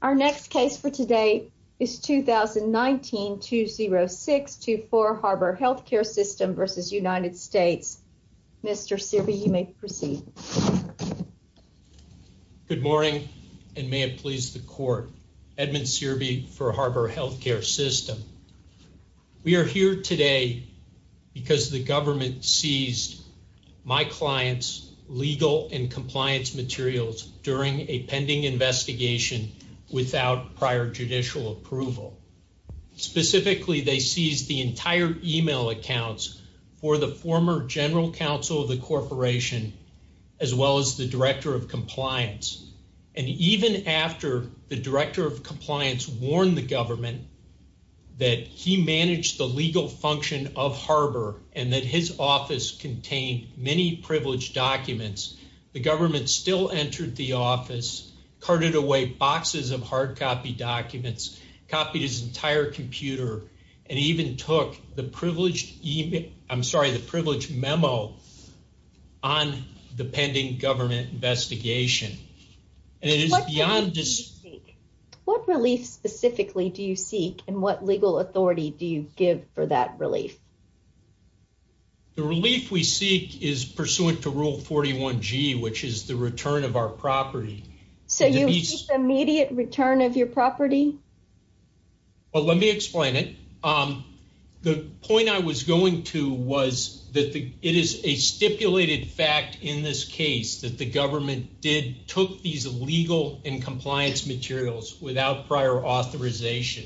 Our next case for today is 2019-206-24 Harbor Healthcare System v. United States. Mr. Searby, you may proceed. Good morning and may it please the court. Edmund Searby for Harbor Healthcare System. We are here today because the government seized my client's legal and compliance materials during a pending investigation without prior judicial approval. Specifically, they seized the entire email accounts for the former general counsel of the corporation as well as the director of compliance. And even after the director of compliance warned the government that he managed the legal function of Harbor and that his office contained many privileged documents, the government still entered the office, carted away boxes of hard copy documents, copied his entire computer, and even took the privileged email, I'm sorry, the privileged memo on the pending government investigation. And it is beyond just... What relief specifically do you seek and what legal authority do you give for that relief? The relief we seek is pursuant to Rule 41G, which is the return of our property. So you seek the immediate return of your property? Well, let me explain it. The point I was going to was that it is a stipulated fact in this case that the government did, took these legal and compliance materials without prior authorization.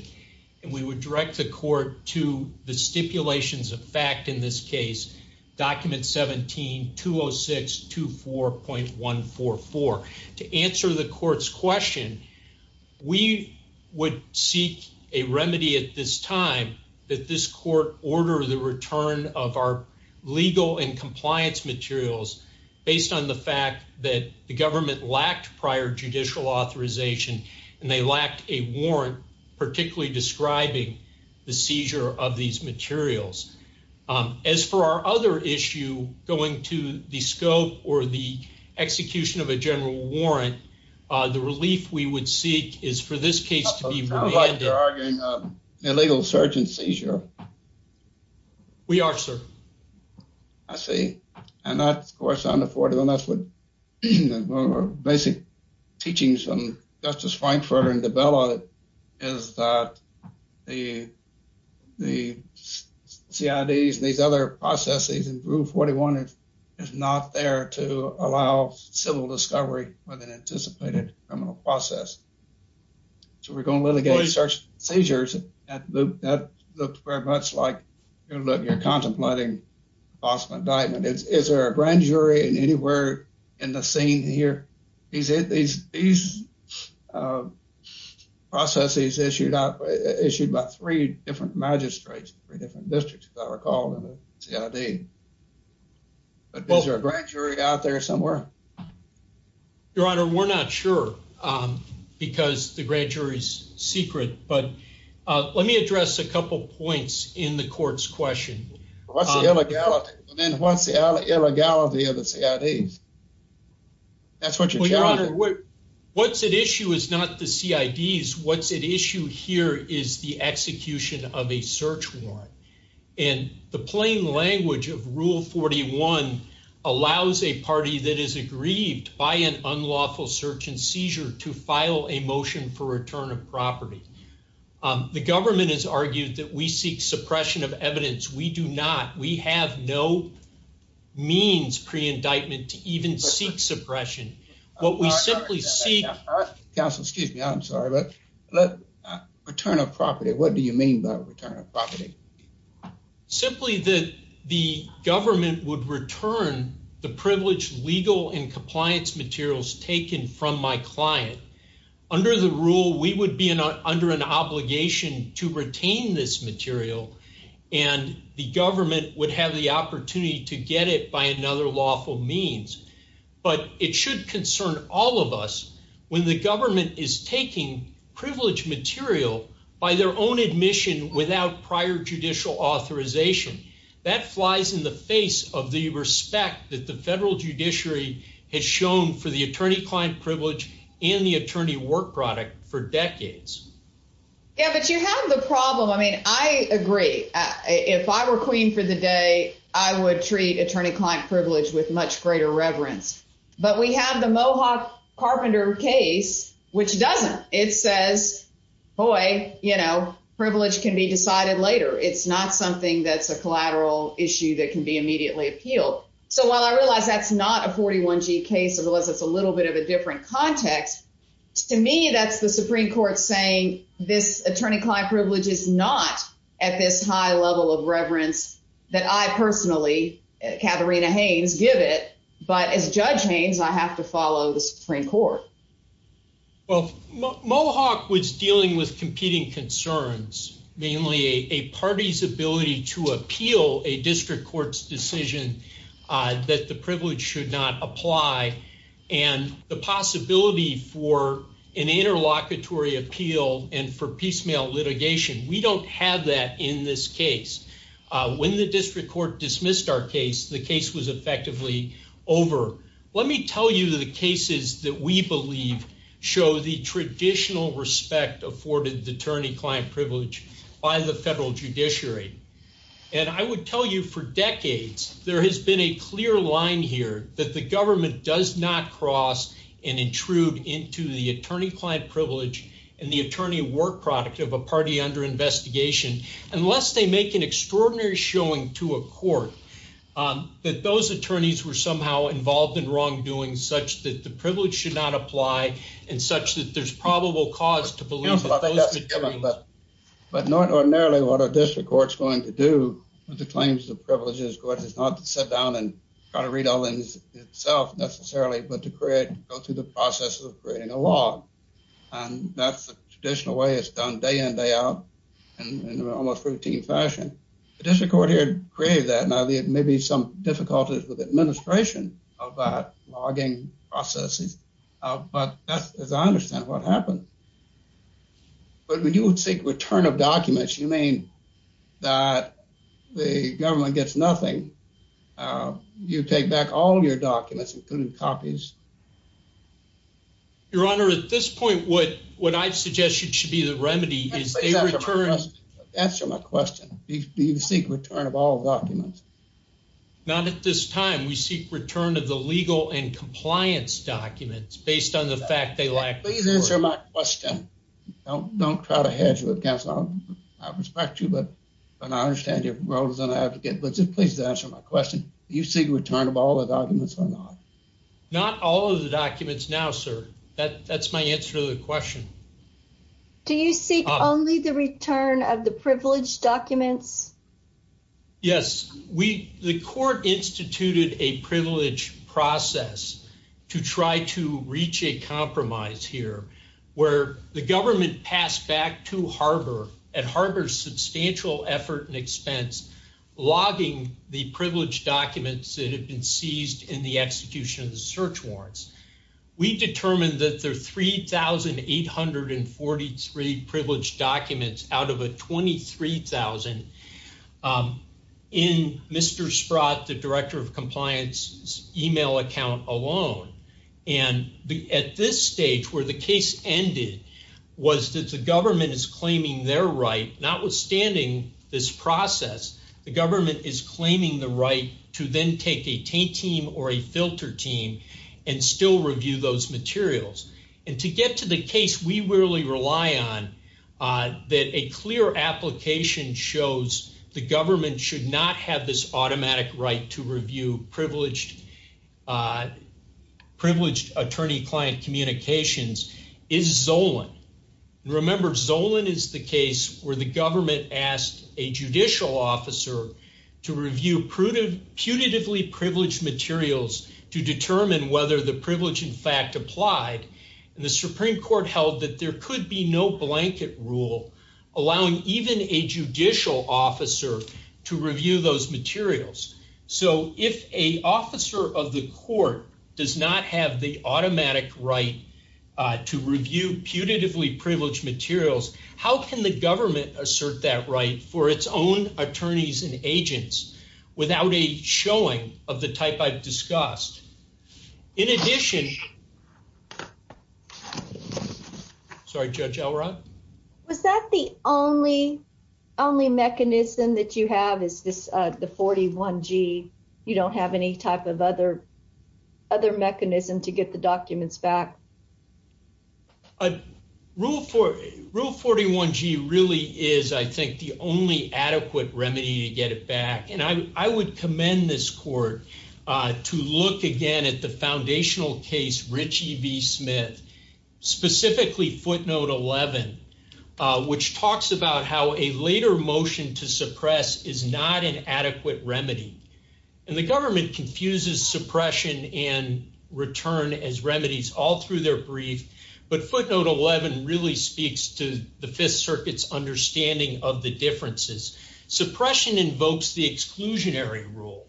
And we would direct the court to the stipulations of fact in this case, document 17-206-24.144. To answer the court's question, we would seek a remedy at this time that this court order the return of our legal and compliance materials based on the fact that the government lacked prior judicial authorization and they lacked a warrant, particularly describing the seizure of these materials. As for our other issue going to the scope or the execution of a general warrant, the relief we would seek is for this case to be... Sounds like you're arguing illegal surgeon seizure. We are, sir. I see. And that's, of course, unaffordable. That's what basic teachings from Justice Frankfurter and DiBella is that the CIDs and these other processes in Rule 41 is not there to allow civil discovery with an anticipated criminal process. So we're going to litigate search seizures. That looked very much like you're contemplating possible indictment. Is there a grand jury anywhere in the scene here? These processes issued by three different magistrates, three different districts as I recall in the CID. But is there a grand jury out there somewhere? Your Honor, we're not sure because the grand jury's secret. But let me address a couple points in the court's question. What's the illegality? What's the illegality of the CIDs? What's at issue is not the CIDs. What's at issue here is the execution of a search warrant. And the plain language of Rule 41 allows a party that is aggrieved by an unlawful search and seizure to file a motion for return of property. The government has argued that we seek suppression of evidence. We do not. We have no means pre-indictment to even seek suppression. What we simply see— Counsel, excuse me. I'm sorry. Return of property. What do you mean by return of property? Simply that the government would return the privileged legal and compliance materials taken from my client. Under the rule, we would be under an obligation to retain this material. And the government would have the opportunity to get it by another lawful means. But it should concern all of us when the government is taking privileged material by their own admission without prior judicial authorization. That flies in the face of the client privilege and the attorney work product for decades. Yeah, but you have the problem. I mean, I agree. If I were queen for the day, I would treat attorney-client privilege with much greater reverence. But we have the Mohawk Carpenter case, which doesn't. It says, boy, you know, privilege can be decided later. It's not something that's a collateral issue that can be immediately appealed. So while I realize that's a 41-G case, unless it's a little bit of a different context, to me, that's the Supreme Court saying this attorney-client privilege is not at this high level of reverence that I personally, Katharina Haynes, give it. But as Judge Haynes, I have to follow the Supreme Court. Well, Mohawk was dealing with competing concerns, mainly a party's ability to appeal a district court's decision that the privilege should not apply and the possibility for an interlocutory appeal and for piecemeal litigation. We don't have that in this case. When the district court dismissed our case, the case was effectively over. Let me tell you the cases that we believe show the traditional respect afforded the attorney-client privilege by the federal judiciary. And I would tell you for decades, there has been a clear line here that the government does not cross and intrude into the attorney-client privilege and the attorney work product of a party under investigation, unless they make an extraordinary showing to a court that those attorneys were somehow involved in wrongdoing such that the privilege should not apply and such that there's probable cause to believe. But ordinarily, what a district court's going to do with the claims of privileges is not to sit down and try to read all in itself necessarily, but to create, go through the process of creating a law. And that's the traditional way it's done day in, day out and in an almost routine fashion. The district court here created that. Now, there may be some administration of that logging processes, but that's as I understand what happened. But when you would seek return of documents, you mean that the government gets nothing. You take back all your documents, including copies. Your Honor, at this point, what I've suggested should be the remedy is they return. Answer my question. Do you seek return of all documents? Not at this time. We seek return of the legal and compliance documents based on the fact they lack. Please answer my question. Don't try to hedge with counsel. I respect you, but I understand your role as an advocate, but just please answer my question. Do you seek return of all the documents or not? Not all of the documents now, sir. That's my answer to the question. Do you seek only the return of the privileged documents? Yes. The court instituted a privilege process to try to reach a compromise here, where the government passed back to Harbor at Harbor's substantial effort and expense, logging the privileged documents that have been seized in the execution of the search warrants. We determined that there are 3,843 privileged documents out of a 23,000 in Mr. Sprott, the Director of Compliance's email account alone. At this stage, where the case ended, was that the government is claiming their right, notwithstanding this process, the government is claiming the right to then take a taint team or a filter team and still review those materials. To get to the case we really rely on, that a clear application shows the government should not have this automatic right to review privileged attorney-client communications, is Zolan. Remember, Zolan is the case where the to review punitively privileged materials to determine whether the privilege in fact applied. The Supreme Court held that there could be no blanket rule allowing even a judicial officer to review those materials. If an officer of the court does not have the automatic right to review punitively privileged materials, how can the government assert that right for its own attorneys and agents without a showing of the type I've discussed? In addition, sorry, Judge Elrod? Was that the only mechanism that you have is this, the 41G? You don't have any type of other mechanism to get the documents back? Rule 41G really is, I think, the only adequate remedy to get it back. I would commend this court to look again at the foundational case Richie v. Smith, specifically footnote 11, which talks about how a later motion to suppress is not an adequate remedy. The government confuses suppression and return as remedies all through their brief, but footnote 11 really speaks to the Fifth Circuit's understanding of the differences. Suppression invokes the exclusionary rule,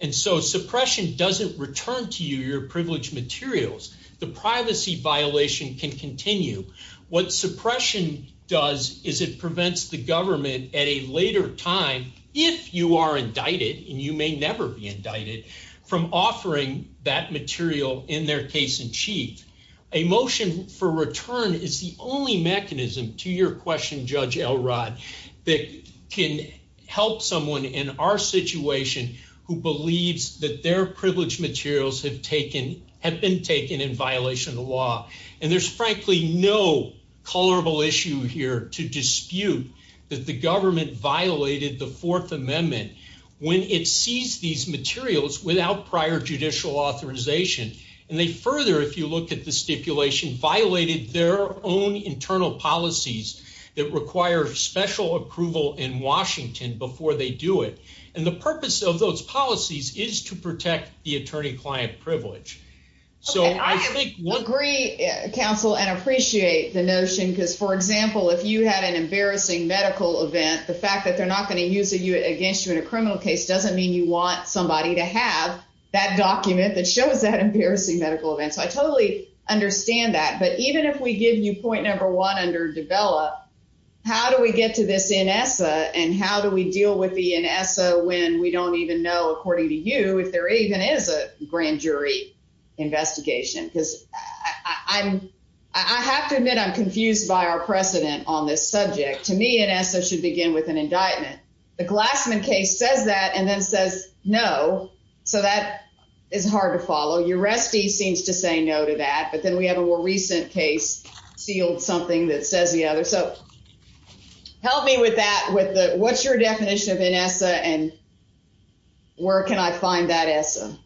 and so suppression doesn't return to you your privileged materials. The privacy violation can continue. What suppression does is it prevents the government at a later time, if you are indicted, from offering that material in their case in chief. A motion for return is the only mechanism, to your question, Judge Elrod, that can help someone in our situation who believes that their privileged materials have been taken in violation of the law. And there's frankly no colorable issue here to dispute that the government violated the Fourth Amendment when it seized these materials without prior judicial authorization. And they further, if you look at the stipulation, violated their own internal policies that require special approval in Washington before they do it. And the purpose of those policies is to protect the attorney-client privilege. I agree, counsel, and appreciate the notion because, for example, if you had an arrest in a criminal case, doesn't mean you want somebody to have that document that shows that embarrassing medical event. So I totally understand that. But even if we give you point number one under develop, how do we get to this NSA and how do we deal with the NSA when we don't even know, according to you, if there even is a grand jury investigation? Because I have to admit I'm confused by our precedent on this subject. To me, NSA should begin with an indictment. The Glassman case says that and then says no. So that is hard to follow. Uresti seems to say no to that. But then we have a more recent case sealed something that says the other. So help me with that, with the what's your definition of NSA and where can I find that NSA?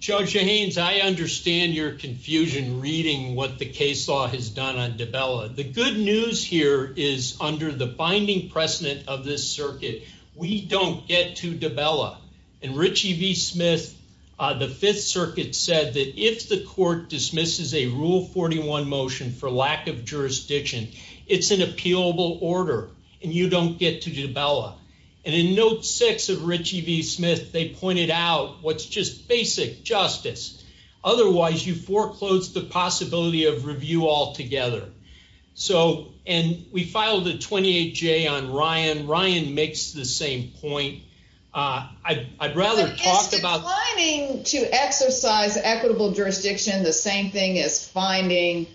Judge Jahanes, I understand your confusion reading what the case law has done on Dabella. The good news here is under the binding precedent of this circuit, we don't get to Dabella. And Richie V. Smith, the Fifth Circuit, said that if the court dismisses a Rule 41 motion for lack of jurisdiction, it's an appealable order and you don't get to Dabella. And in note six of Richie V. Smith, they pointed out what's just basic justice. Otherwise, you foreclose the possibility of review altogether. So and we filed a 28-J on Ryan. Ryan makes the same point. I'd rather talk about... Is declining to exercise equitable jurisdiction the same thing as finding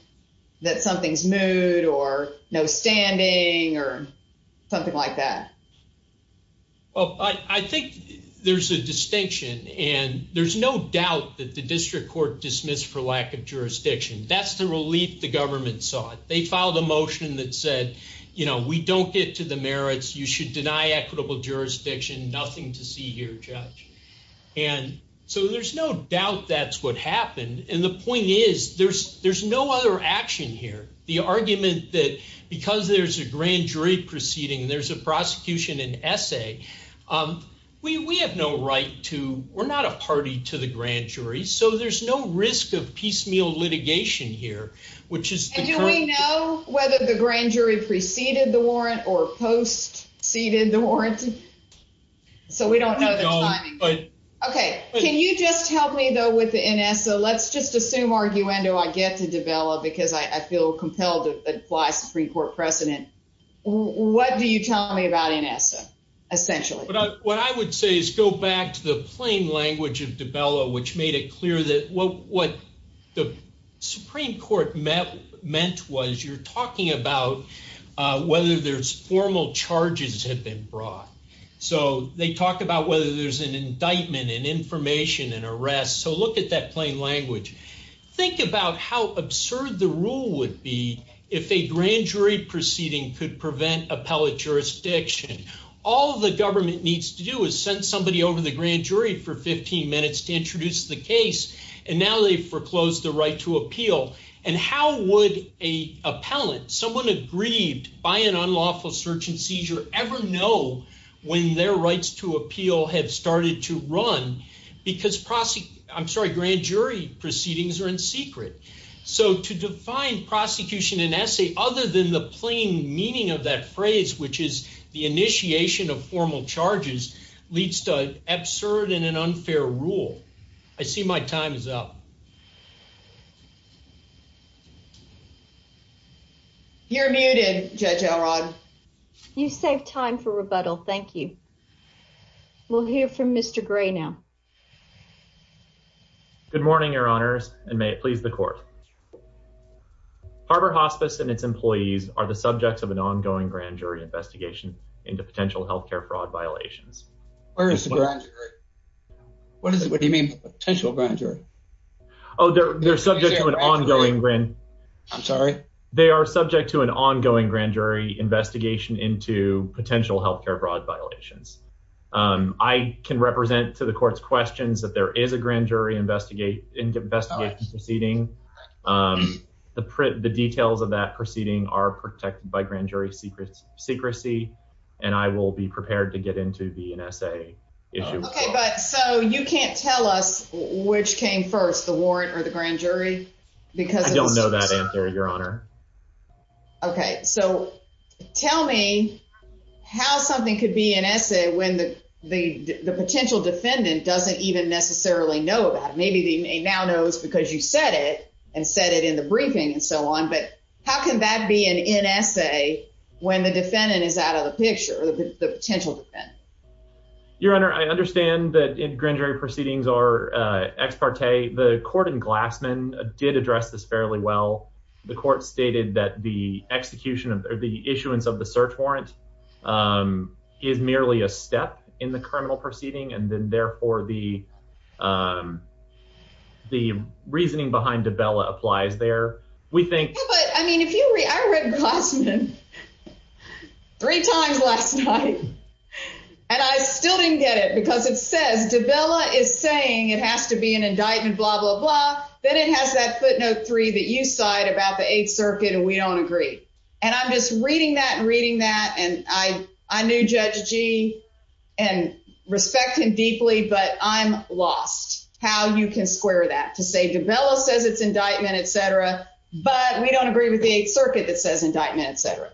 that something's moot or no standing or something like that? Well, I think there's a distinction and there's no doubt that the district court dismissed for lack of jurisdiction. That's the relief the government sought. They filed a motion that said, you know, we don't get to the merits. You should deny equitable jurisdiction. Nothing to see here, Judge. And so there's no doubt that's what happened. And the point is, there's no other action here. The argument that because there's a grand jury proceeding, there's a prosecution and there's a piecemeal litigation here, which is... And do we know whether the grand jury preceded the warrant or post-seeded the warrant? So we don't know the timing. Okay. Can you just help me, though, with the NSA? Let's just assume, arguendo, I get to Dabella because I feel compelled to apply Supreme Court precedent. What do you tell me about NSA, essentially? What I would say is go back to the plain language of Dabella, which made it clear that what the Supreme Court meant was you're talking about whether there's formal charges have been brought. So they talk about whether there's an indictment and information and arrest. So look at that plain language. Think about how absurd the rule would be if a grand jury proceeding could prevent appellate jurisdiction. All the grand jury for 15 minutes to introduce the case, and now they've foreclosed the right to appeal. And how would an appellate, someone aggrieved by an unlawful search and seizure, ever know when their rights to appeal have started to run? Because grand jury proceedings are in secret. So to define prosecution in NSA, other than the plain meaning of that phrase, which is the absurd and an unfair rule. I see my time is up. You're muted, Judge Elrod. You saved time for rebuttal. Thank you. We'll hear from Mr. Gray now. Good morning, your honors, and may it please the court. Harbor Hospice and its employees are the subjects of an ongoing grand jury investigation into potential health care fraud violations. What do you mean potential grand jury? Oh, they're subject to an ongoing grand jury investigation into potential health care fraud violations. I can represent to the court's questions that there is a grand jury investigation proceeding. The details of that proceeding are protected by grand jury secrecy, and I will be prepared to get into the NSA issue. OK, but so you can't tell us which came first, the warrant or the grand jury? I don't know that answer, your honor. OK, so tell me how something could be NSA when the potential defendant doesn't even necessarily know about it. Maybe they now know it's because you said it and said it in the briefing and so on. How can that be an NSA when the defendant is out of the picture, the potential defendant? Your honor, I understand that grand jury proceedings are ex parte. The court in Glassman did address this fairly well. The court stated that the execution of the issuance of the search warrant is merely a step in the criminal proceeding, and then therefore the reasoning behind DiBella applies there. I read Glassman three times last night, and I still didn't get it because it says DiBella is saying it has to be an indictment, blah, blah, blah. Then it has that footnote three that you cite about the Eighth Circuit, and we don't agree. And I'm just reading that and reading that, and I knew Judge Gee and respect him deeply, but I'm lost how you can square that to say DiBella says it's indictment, etc., but we don't agree with the Eighth Circuit that says indictment, etc.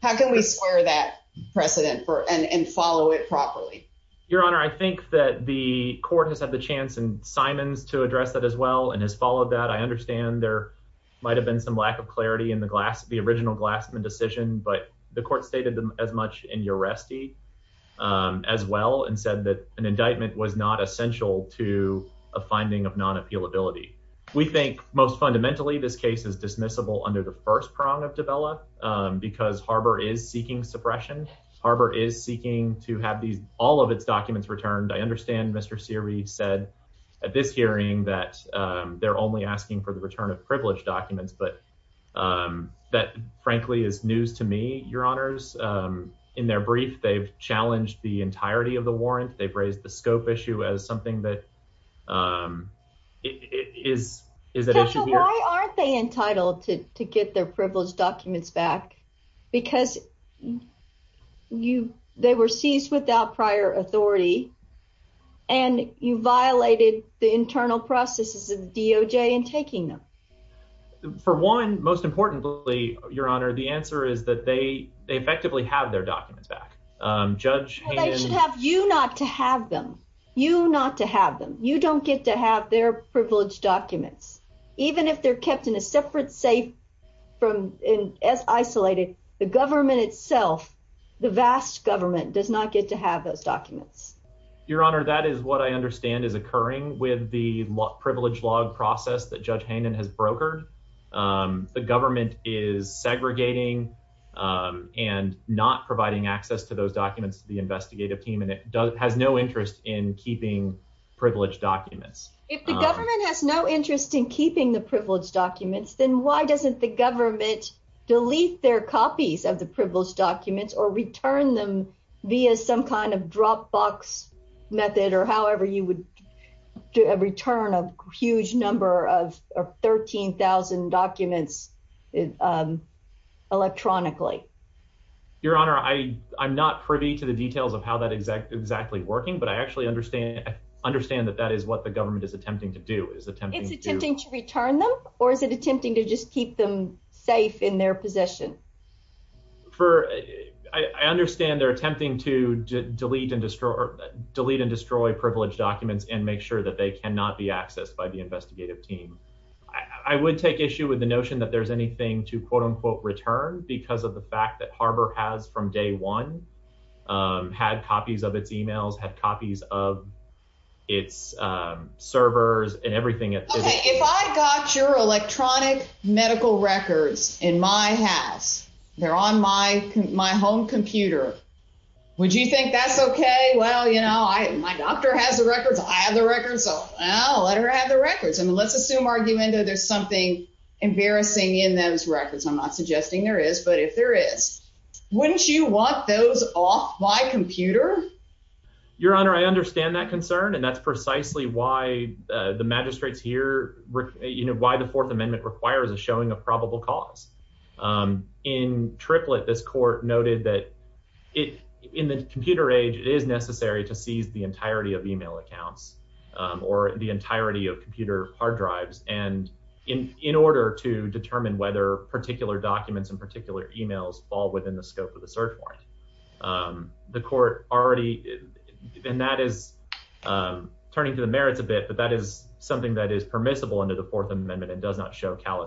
How can we square that precedent and follow it properly? Your honor, I think that the court has had the chance in Simons to address that as well and has followed that. I understand there might have been some lack of clarity in the original Glassman decision, but the court stated as much in Uresti as well and said that an indictment was not essential to a finding of non-appealability. We think most fundamentally this case is dismissible under the first prong of DiBella because Harbor is seeking suppression. Harbor is seeking to have these all of its documents returned. I understand Mr. Seary said at this hearing that they're only to me, your honors. In their brief, they've challenged the entirety of the warrant. They've raised the scope issue as something that is an issue here. Why aren't they entitled to get their privileged documents back? Because they were seized without prior authority and you violated the internal processes of the DOJ in they effectively have their documents back. They should have you not to have them. You not to have them. You don't get to have their privileged documents. Even if they're kept in a separate safe, isolated, the government itself, the vast government, does not get to have those documents. Your honor, that is what I understand is occurring with the privilege log process that and not providing access to those documents to the investigative team. It has no interest in keeping privileged documents. If the government has no interest in keeping the privileged documents, then why doesn't the government delete their copies of the privileged documents or return them via some kind of Dropbox method or however you would do a return of a huge number of 13,000 documents electronically? Your honor, I'm not privy to the details of how that exactly working, but I actually understand that that is what the government is attempting to do. It's attempting to return them or is it attempting to just keep them safe in their possession? I understand they're attempting to delete and destroy privilege documents and make sure that cannot be accessed by the investigative team. I would take issue with the notion that there's anything to quote unquote return because of the fact that Harbor has from day one had copies of its emails, had copies of its servers and everything. If I got your electronic medical records in my house, they're on my home computer, would you think that's okay? Well, you know, I, my doctor has the records. I have the records. So I'll let her have the records. I mean, let's assume argumenta, there's something embarrassing in those records. I'm not suggesting there is, but if there is, wouldn't you want those off my computer? Your honor, I understand that concern. And that's precisely why the magistrates here, you know, why the fourth amendment requires a showing of cause. In triplet, this court noted that it in the computer age, it is necessary to seize the entirety of email accounts or the entirety of computer hard drives. And in, in order to determine whether particular documents in particular emails fall within the scope of the search warrant, the court already, and that is turning to the merits a bit, but that is something that is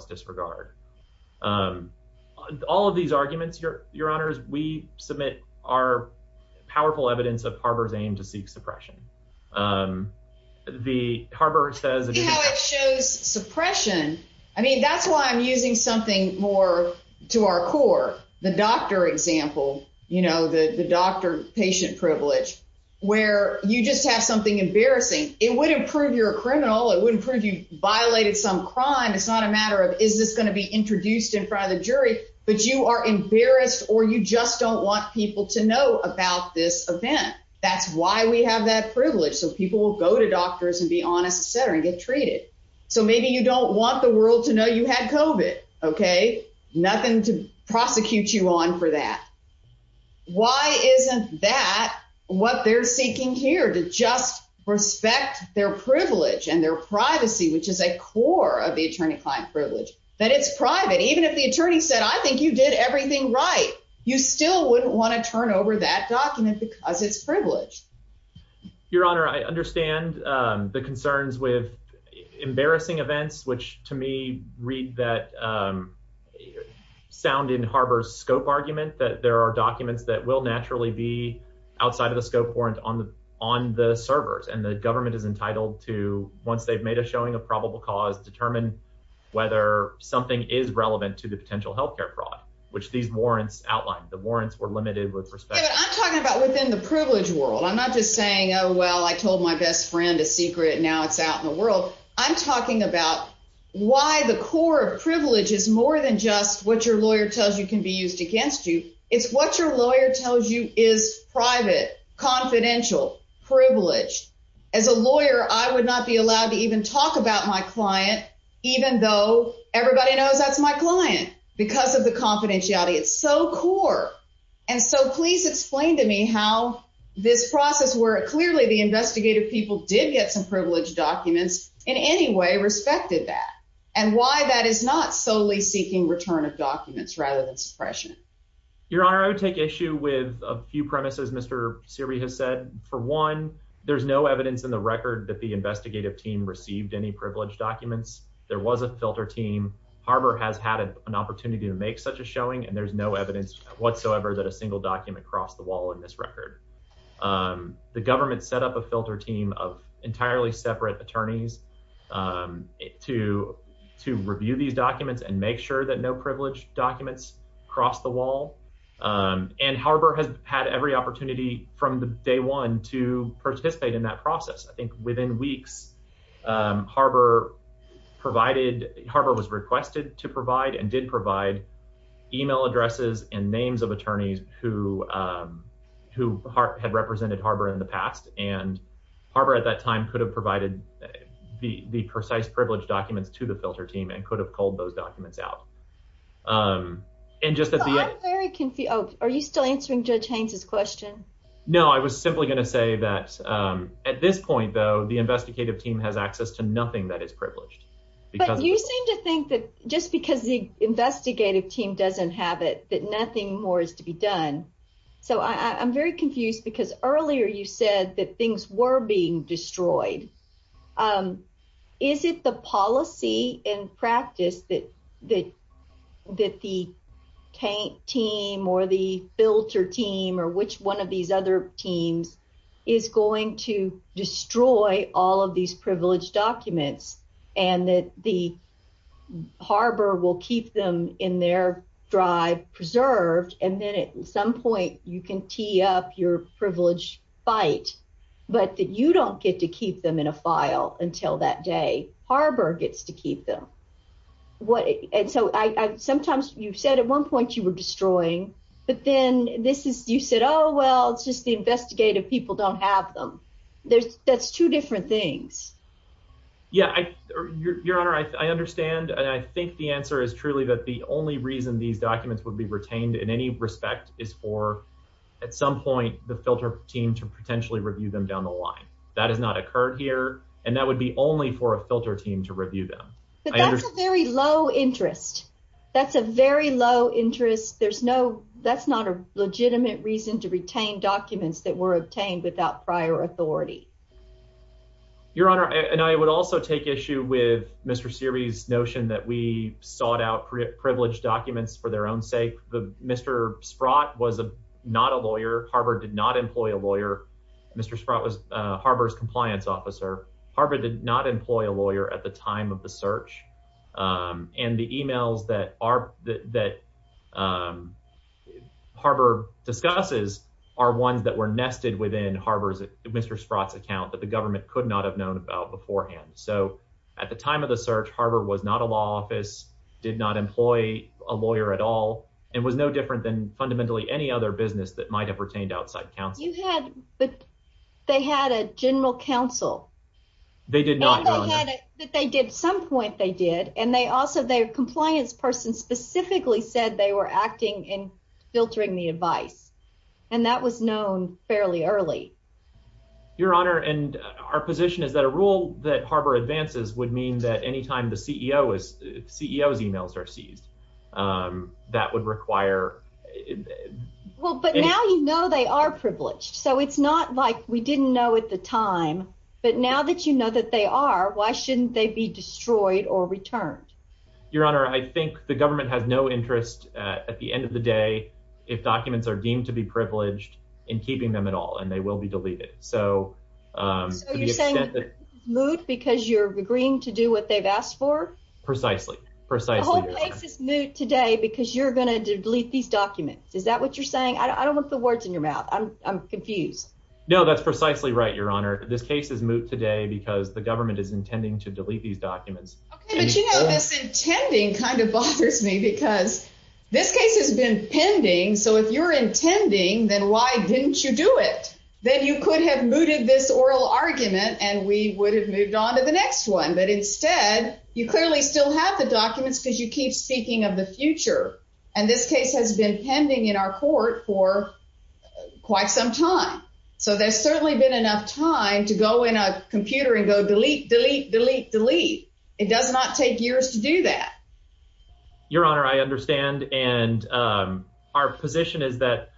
disregard. All of these arguments, your, your honors, we submit our powerful evidence of harbors aim to seek suppression. The harbor says it shows suppression. I mean, that's why I'm using something more to our core, the doctor example, you know, the, the doctor patient privilege, where you just have something embarrassing. It would improve your criminal. It wouldn't prove violated some crime. It's not a matter of, is this going to be introduced in front of the jury, but you are embarrassed or you just don't want people to know about this event. That's why we have that privilege. So people will go to doctors and be honest, et cetera, and get treated. So maybe you don't want the world to know you had COVID. Okay. Nothing to prosecute you on for that. Why isn't that what they're seeking here to just respect their privilege and their privacy, which is a core of the attorney client privilege that it's private. Even if the attorney said, I think you did everything right. You still wouldn't want to turn over that document because it's privileged your honor. I understand the concerns with embarrassing events, which to me read that sound in harbor scope argument, that there are documents that will naturally be outside of the scope warrant on the, on the servers. And the government is entitled to, once they've made a showing a probable cause, determine whether something is relevant to the potential healthcare fraud, which these warrants outlined the warrants were limited with respect. I'm talking about within the privilege world. I'm not just saying, Oh, well, I told my best secret. Now it's out in the world. I'm talking about why the core of privilege is more than just what your lawyer tells you can be used against you. It's what your lawyer tells you is private, confidential privilege. As a lawyer, I would not be allowed to even talk about my client, even though everybody knows that's my client because of the confidentiality it's so core. And so please explain to me how this process where it clearly the investigative people did get some privileged documents in any way respected that and why that is not solely seeking return of documents rather than suppression. Your honor, I would take issue with a few premises. Mr. Siri has said for one, there's no evidence in the record that the investigative team received any privileged documents. There was a filter team. Harbor has had an opportunity to make such a showing and there's no evidence whatsoever that a single document crossed the wall in this record. Um, the government set up a filter team of entirely separate attorneys, um, to, to review these documents and make sure that no privilege documents cross the wall. Um, and Harbor has had every opportunity from the day one to participate in that process. I think within weeks, um, Harbor provided, Harbor was requested to provide and did provide email addresses and names of attorneys who, um, who had represented Harbor in the past. And Harbor at that time could have provided the, the precise privilege documents to the filter team and could have called those documents out. Um, and just at the end, are you still answering judge Haines's question? No, I was simply going to say that, um, at this point though, the investigative team has access to nothing that is privileged. But you seem to think that just because the investigative team doesn't have it, that nothing more is to be done. So I I'm very confused because earlier you said that things were being destroyed. Um, is it the policy and practice that, that, that the team or the filter team or which one of these other teams is going to destroy all of these privilege documents and that the Harbor will keep them in their drive preserved. And then at some point you can tee up your privilege fight, but that you don't get to keep them in a file until that day, Harbor gets to keep them. What? And so I, I, sometimes you've said at one point you were you said, Oh, well, it's just the investigative people don't have them. There's that's two different things. Yeah. I, your, your honor, I, I understand. And I think the answer is truly that the only reason these documents would be retained in any respect is for at some point, the filter team to potentially review them down the line that has not occurred here. And that would be only for a filter team to review them. But that's a very low interest. That's a very low interest. There's no, that's not a legitimate reason to retain documents that were obtained without prior authority, your honor. And I would also take issue with Mr. Series notion that we sought out privilege documents for their own sake. The Mr. Sprott was a, not a lawyer. Harvard did not employ a lawyer. Mr. Sprott was a Harbor's compliance officer. Harvard did not employ a lawyer at the time of the search. Um, and the emails that are, that, um, Harbor discusses are ones that were nested within Harvard's Mr. Sprott's account that the government could not have known about beforehand. So at the time of the search, Harvard was not a law office, did not employ a lawyer at all. It was no different than fundamentally any other business that might have retained outside council. You had, but they had a general council. They did not know that they did some point they did. And they also, their compliance person specifically said they were acting in filtering the advice. And that was known fairly early, your honor. And our position is that a rule that Harbor advances would mean that anytime the well, but now, you know, they are privileged. So it's not like we didn't know at the time, but now that you know that they are, why shouldn't they be destroyed or returned? Your honor, I think the government has no interest at the end of the day. If documents are deemed to be privileged in keeping them at all, and they will be deleted. So, um, Luke, because you're agreeing to do what they've asked for precisely, precisely today, because you're going to delete these documents. Is that what you're saying? I don't want the words in your mouth. I'm confused. No, that's precisely right. Your honor. This case is moot today because the government is intending to delete these documents. Okay. But you know, this intending kind of bothers me because this case has been pending. So if you're intending, then why didn't you do it? Then you could have mooted this oral argument and we would have moved on to the next one. But instead you clearly still have the documents because you keep speaking of the future. And this case has been pending in our court for quite some time. So there's certainly been enough time to go in a computer and go delete, delete, delete, delete. It does not take years to do that. Your honor. I understand. And, um, our position is that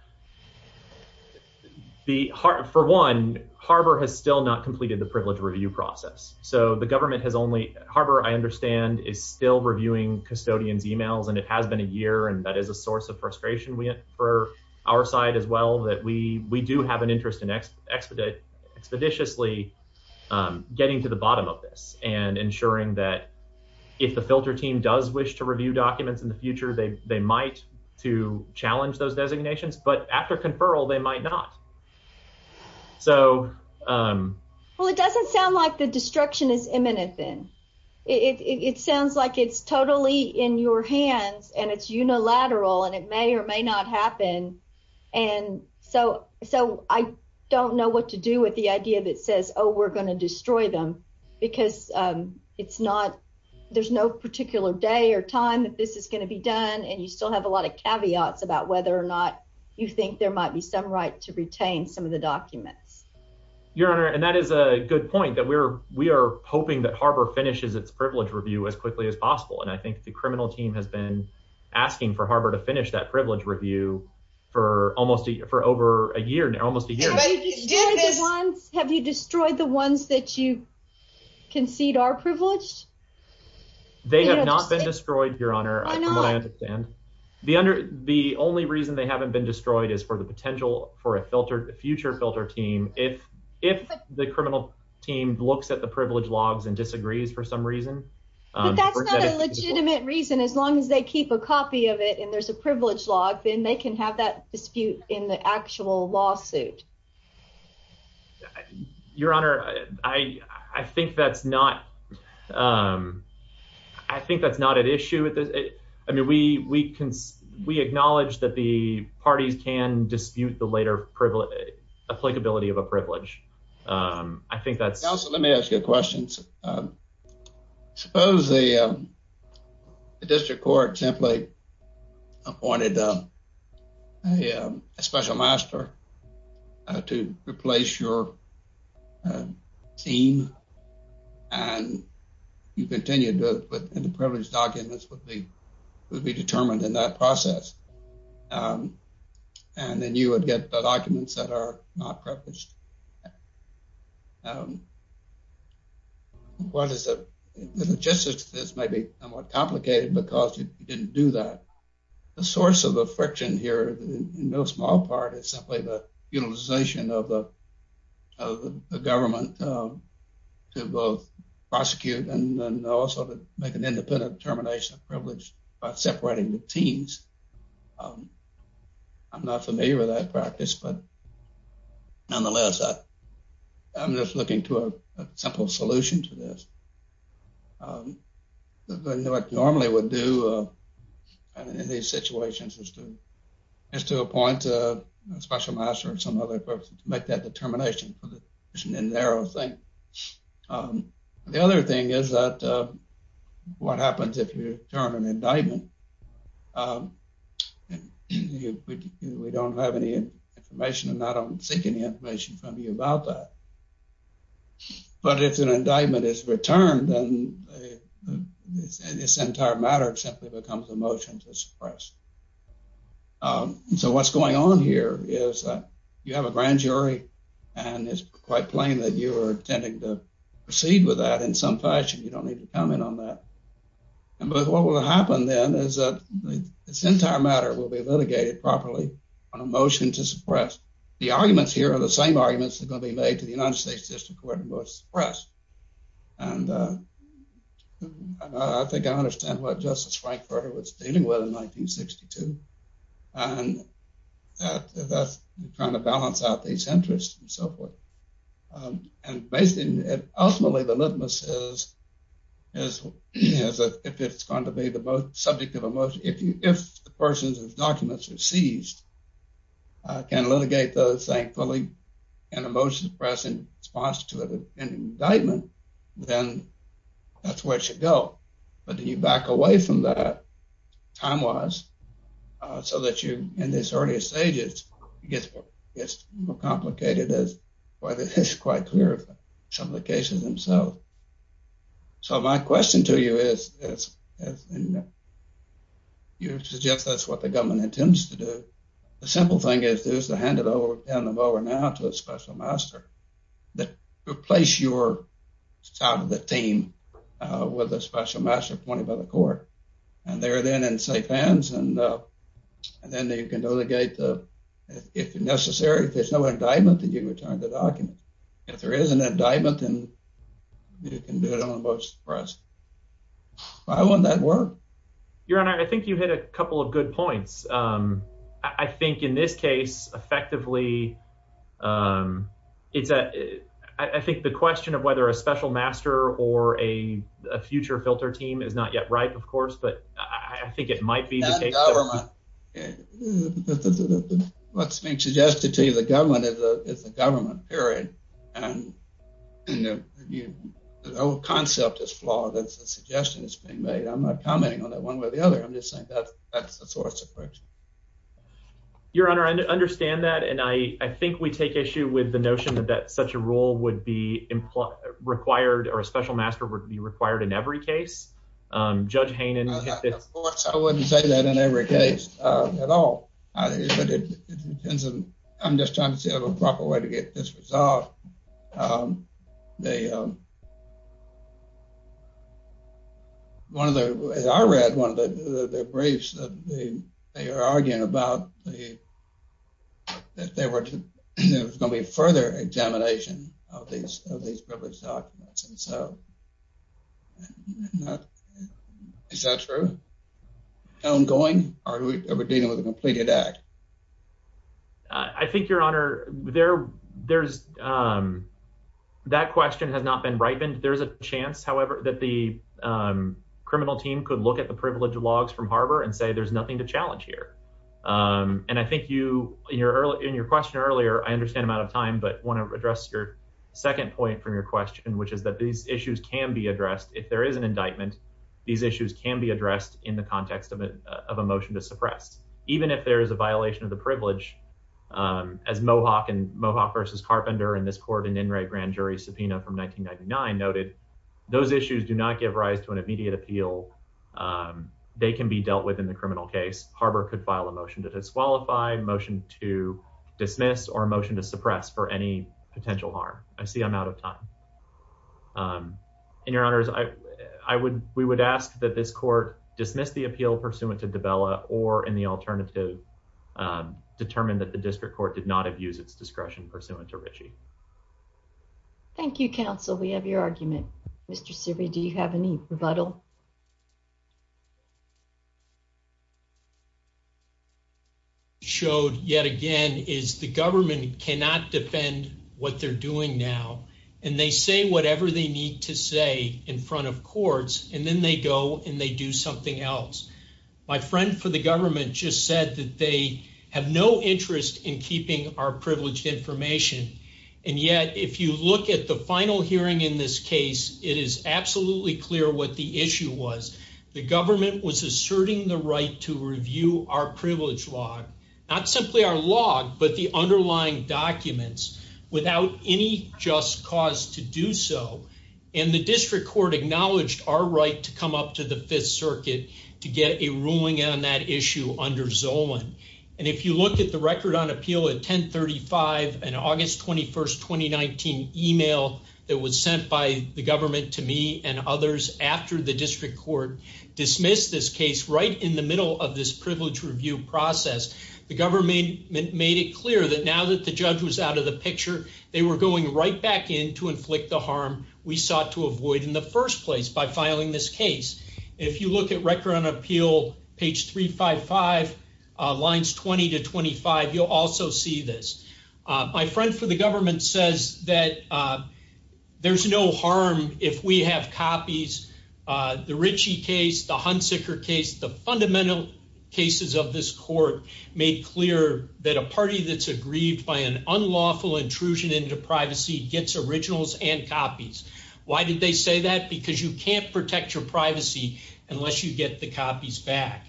the heart for one Harbor has still not completed the privilege review process. So the government has only Harbor. I understand is still reviewing custodian's emails and it has been a year. And that is a source of frustration for our side as well, that we, we do have an interest in expedite expeditiously, um, getting to the bottom of this and ensuring that if the filter team does wish to review documents in the future, they, they might to challenge those designations, but after conferral, they might not. So, um, well, it doesn't sound like the destruction is imminent then it sounds like it's totally in your hands and it's unilateral and it may or may not happen. And so, so I don't know what to do with the idea that says, Oh, we're going to destroy them because, um, it's not, there's no particular day or time that this is going to be done. And you still have a lot of caveats about whether or not you think there might be some right to retain some of the documents. Your honor. And that is a good point that we're, we are hoping that Harbor finishes its privilege review as quickly as possible. And I think the criminal team has been asking for Harbor to finish that privilege review for almost a, for over a year now, almost a year. Have you destroyed the ones that you concede are privileged? They have not been destroyed your honor. I know what I haven't been destroyed is for the potential for a filter future filter team. If, if the criminal team looks at the privilege logs and disagrees for some reason, that's not a legitimate reason, as long as they keep a copy of it and there's a privilege log, then they can have that dispute in the actual lawsuit. Your honor. I, I think that's not, um, I think that's not an issue with it. I mean, we, we acknowledge that the parties can dispute the later privilege applicability of a privilege. Um, I think that's also, let me ask you a question. Um, suppose the, um, the district court template appointed, uh, a, um, a special master, uh, to replace your, uh, team and you continue to put in the privileged documents would be, would be determined in that process. Um, and then you would get the documents that are not privileged. Um, what is it? The logistics of this may be somewhat complicated because you didn't do that. The source of the friction here in no small part is simply the utilization of the, of the government, um, to both prosecute and then also to make an independent termination of privilege by separating the teams. Um, I'm not familiar with that practice, but nonetheless, I, I'm just looking to a simple solution to this. Um, what normally would do, uh, in these situations is to, is to appoint a special master or some other person to make that termination for the narrow thing. Um, the other thing is that, uh, what happens if you turn an indictment? Um, we don't have any information and I don't seek any information from you about that, but if an indictment is returned, then this entire matter simply becomes a motion to suppress. Um, so what's going on here is that you have a grand jury and it's quite plain that you are intending to proceed with that in some fashion. You don't need to comment on that. And what will happen then is that this entire matter will be litigated properly on a motion to suppress. The arguments here are the same arguments that are going to be made to the United States District Court to suppress. And, uh, I think I understand what Justice Frankfurter was dealing with in 1962 and that, that's trying to balance out these interests and so forth. Um, and basically, ultimately the litmus is, is, is that if it's going to be the most subject of emotion, if you, if the person's documents are seized, uh, can litigate those thankfully and a motion to suppress in response to an indictment, then that's where it should go. But then you back away from that time-wise, uh, so that you, in this early stages, it gets, it gets more complicated as whether it's quite clear some of the cases themselves. So my question to you is, is, you suggest that's what the government intends to do. The simple thing is to hand it over, hand them over now to a special master that replace your side of the team with a special master appointed by the court. And they're then in safe hands. And, uh, and then they can delegate the, if necessary, if there's no indictment, then you return the document. If there is an indictment, then you can do it on a motion to suppress. Why wouldn't that work? Your Honor, I think you hit a couple of good points. Um, I think in this case, effectively, um, it's a, I think the question of whether a special master or a future filter team is not yet ripe, of course, but I think it might be the case. What's being suggested to you, the government is a government period and the whole concept is flawed. That's the suggestion that's being made. I'm not commenting on that one way or the other. I'm just saying that's, that's the source of friction. Your Honor, I understand that. And I think we take issue with the notion that that such a role would be required or a special master would be required in every case. Um, Judge Hainan, of course, I wouldn't say that in every case at all, but it depends on, I'm just trying to see a proper way to get this resolved. Um, they, um, one of the, as I read one of the briefs that they are arguing about the, that there were going to be further examination of these, of these privilege documents. And so, is that true? Ongoing? Or are we dealing with a completed act? I think, Your Honor, there, there's, um, that question has not been ripened. There's a chance, that the, um, criminal team could look at the privilege logs from Harbor and say, there's nothing to challenge here. Um, and I think you, in your question earlier, I understand I'm out of time, but want to address your second point from your question, which is that these issues can be addressed. If there is an indictment, these issues can be addressed in the context of a motion to suppress. Even if there is a violation of the privilege, um, as Mohawk and Mohawk versus Carpenter in this court in In re grand jury subpoena from 1999 noted those issues do not give rise to an immediate appeal. Um, they can be dealt with in the criminal case. Harbor could file a motion to disqualify motion to dismiss or motion to suppress for any potential harm. I see I'm out of time. Um, and your honors, I would, we would ask that this court dismiss the appeal pursuant to develop or in the alternative, um, determined that the district court did not use its discretion pursuant to Ritchie. Thank you, counsel. We have your argument, Mr. Siri. Do you have any rebuttal showed yet again is the government cannot defend what they're doing now, and they say whatever they need to say in front of courts, and then they go and they do something else. My friend for the information. And yet, if you look at the final hearing in this case, it is absolutely clear what the issue was. The government was asserting the right to review our privilege log, not simply our log, but the underlying documents without any just cause to do so. And the district court acknowledged our right to come up to the fifth circuit to get a ruling on that issue under And if you look at the record on appeal at 10 35 and August 21st 2019 email that was sent by the government to me and others after the district court dismissed this case right in the middle of this privilege review process, the government made it clear that now that the judge was out of the picture, they were going right back in to inflict the harm we sought to avoid in the lines 20 to 25. You'll also see this. My friend for the government says that there's no harm if we have copies. The Richie case, the Hunsicker case, the fundamental cases of this court made clear that a party that's aggrieved by an unlawful intrusion into privacy gets originals and copies. Why did they say that? Because you can't protect your privacy unless you get the copies back.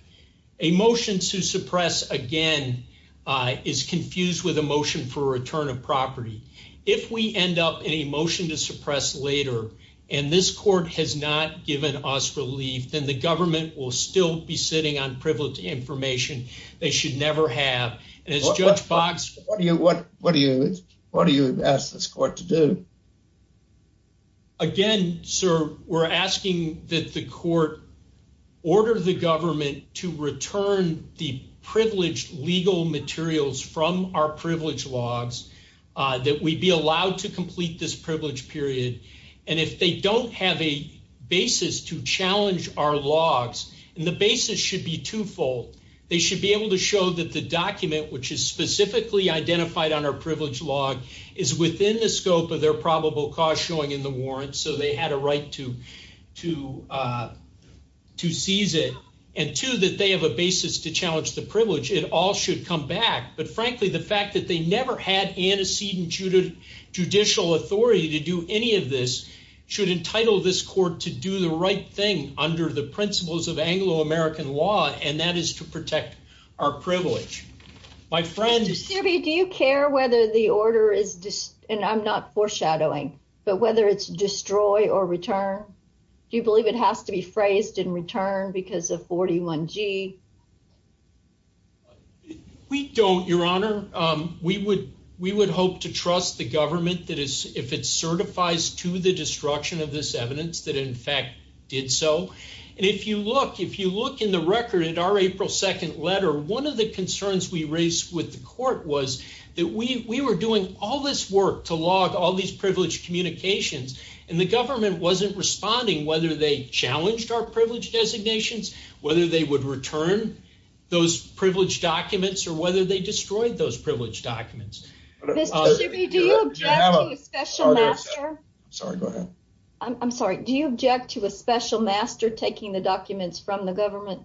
A motion to suppress again is confused with a motion for a return of property. If we end up in a motion to suppress later and this court has not given us relief, then the government will still be sitting on privileged information they should never have. And as Judge Box, what do you, what do you, what do you ask this court to do? Again, sir, we're asking that the court order the government to return the privileged legal materials from our privilege logs that we'd be allowed to complete this privilege period. And if they don't have a basis to challenge our logs, and the basis should be twofold. They should be able to show that the document, which is specifically identified on our privilege log is within the scope of their probable cause showing in the warrants. So they had a right to, to, uh, to seize it and to that they have a basis to challenge the privilege. It all should come back. But frankly, the fact that they never had antecedent judicial authority to do any of this should entitle this court to do the right thing under the principles of Anglo-American law. And that is to protect our privilege. My friend, do you care whether the order is just, and I'm not foreshadowing, but whether it's destroy or return, do you believe it has to be phrased in return because of 41g? We don't your honor. Um, we would, we would hope to trust the government that is, if it certifies to the destruction of this evidence that in fact did so. And if you look, if you look in the record at our April 2nd letter, one of the concerns we raised with the court was that we, we were doing all this work to log all these privileged communications and the government wasn't responding, whether they challenged our privilege designations, whether they would return those privileged documents or whether they destroyed those privileged documents. Sorry, go ahead. I'm sorry. Do you object to a special master taking the documents from the government?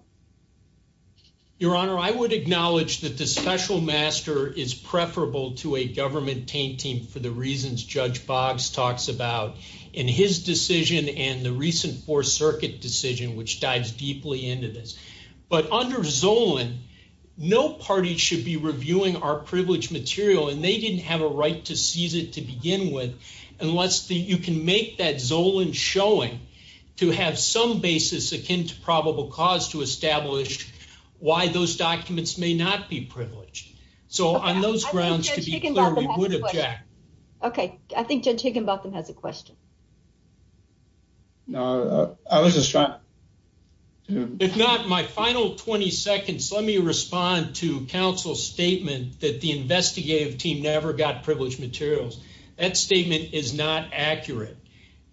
Your honor, I would acknowledge that the special master is preferable to a government taint team for the reasons Judge Boggs talks about in his decision and the recent four circuit decision, which dives deeply into this. But under Zolan, no party should be reviewing our privileged material and they didn't have a right to seize it to begin with. Unless you can make that Zolan showing to have some basis akin to probable cause to establish why those documents may not be privileged. So on those grounds, to be clear, we would object. Okay. I think Judge Higginbotham has a question. No, I wasn't trying. If not my final 20 seconds, let me respond to counsel's statement that the investigative team never got privileged materials. That statement is not accurate.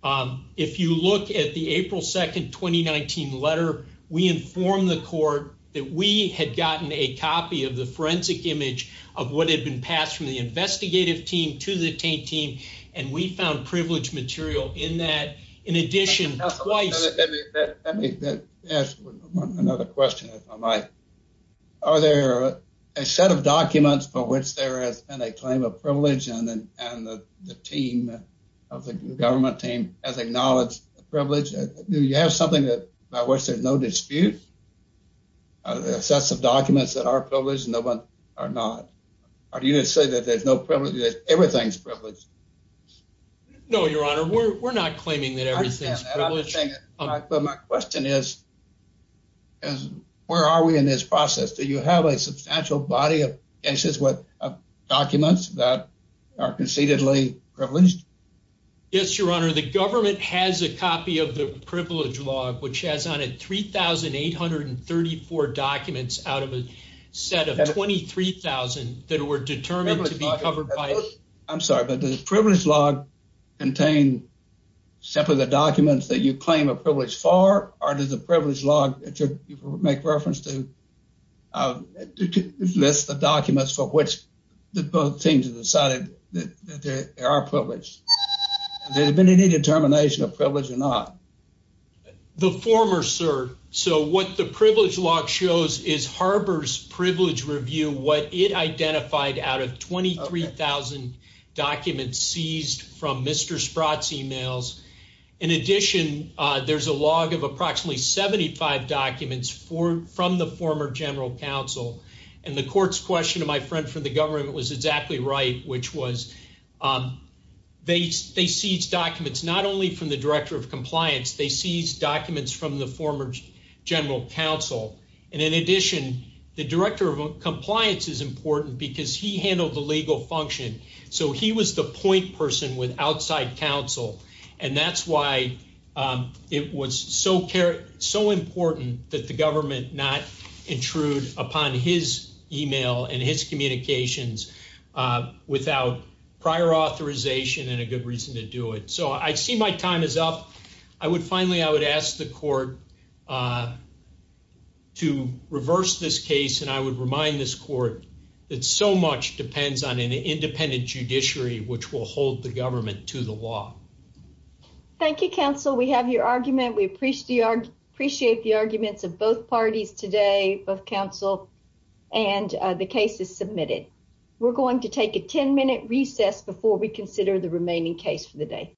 If you look at the April 2nd, 2019 letter, we informed the court that we had gotten a copy of the forensic image of what had been passed from the investigative team to the taint team. And we found privileged material in that in addition twice. Let me ask another question if I might. Are there a set of documents for which there has been a claim of the team of the government team as acknowledged privilege? Do you have something that by which there's no dispute? Assessive documents that are privileged and no one are not. Are you going to say that there's no privilege, that everything's privileged? No, Your Honor. We're not claiming that everything's privileged. But my question is, where are we in this process? Do you have a substantial body of documents that are concededly privileged? Yes, Your Honor. The government has a copy of the privilege log, which has on it 3,834 documents out of a set of 23,000 that were determined to be covered by... I'm sorry, but the privilege log contain simply the documents that you claim a privilege for? Or does the privilege log make reference to list the documents for which the both teams have decided that they are privileged? Has there been any determination of privilege or not? The former, sir. So, what the privilege log shows is Harbor's privilege review, what it identified out of 23,000 documents seized from Mr. Sprott's emails. In addition, there's a log of approximately 75 documents from the former general counsel. And the court's question to my friend from the government was exactly right, which was, they seized documents not only from the director of compliance, they seized documents from the former general counsel. And in addition, the director of compliance is important because he handled the legal function. So, he was the point person with outside counsel. And that's why it was so important that the government not intrude upon his email and his communications without prior authorization and a good reason to do it. So, I see my time is up. I would finally, I would ask the court to reverse this case. And I would remind this court that so much depends on an independent judiciary, which will hold the government to the law. Thank you, counsel. We have your argument. We appreciate the arguments of both parties today of counsel. And the case is submitted. We're going to take a 10-minute recess before we consider the remaining case for the day.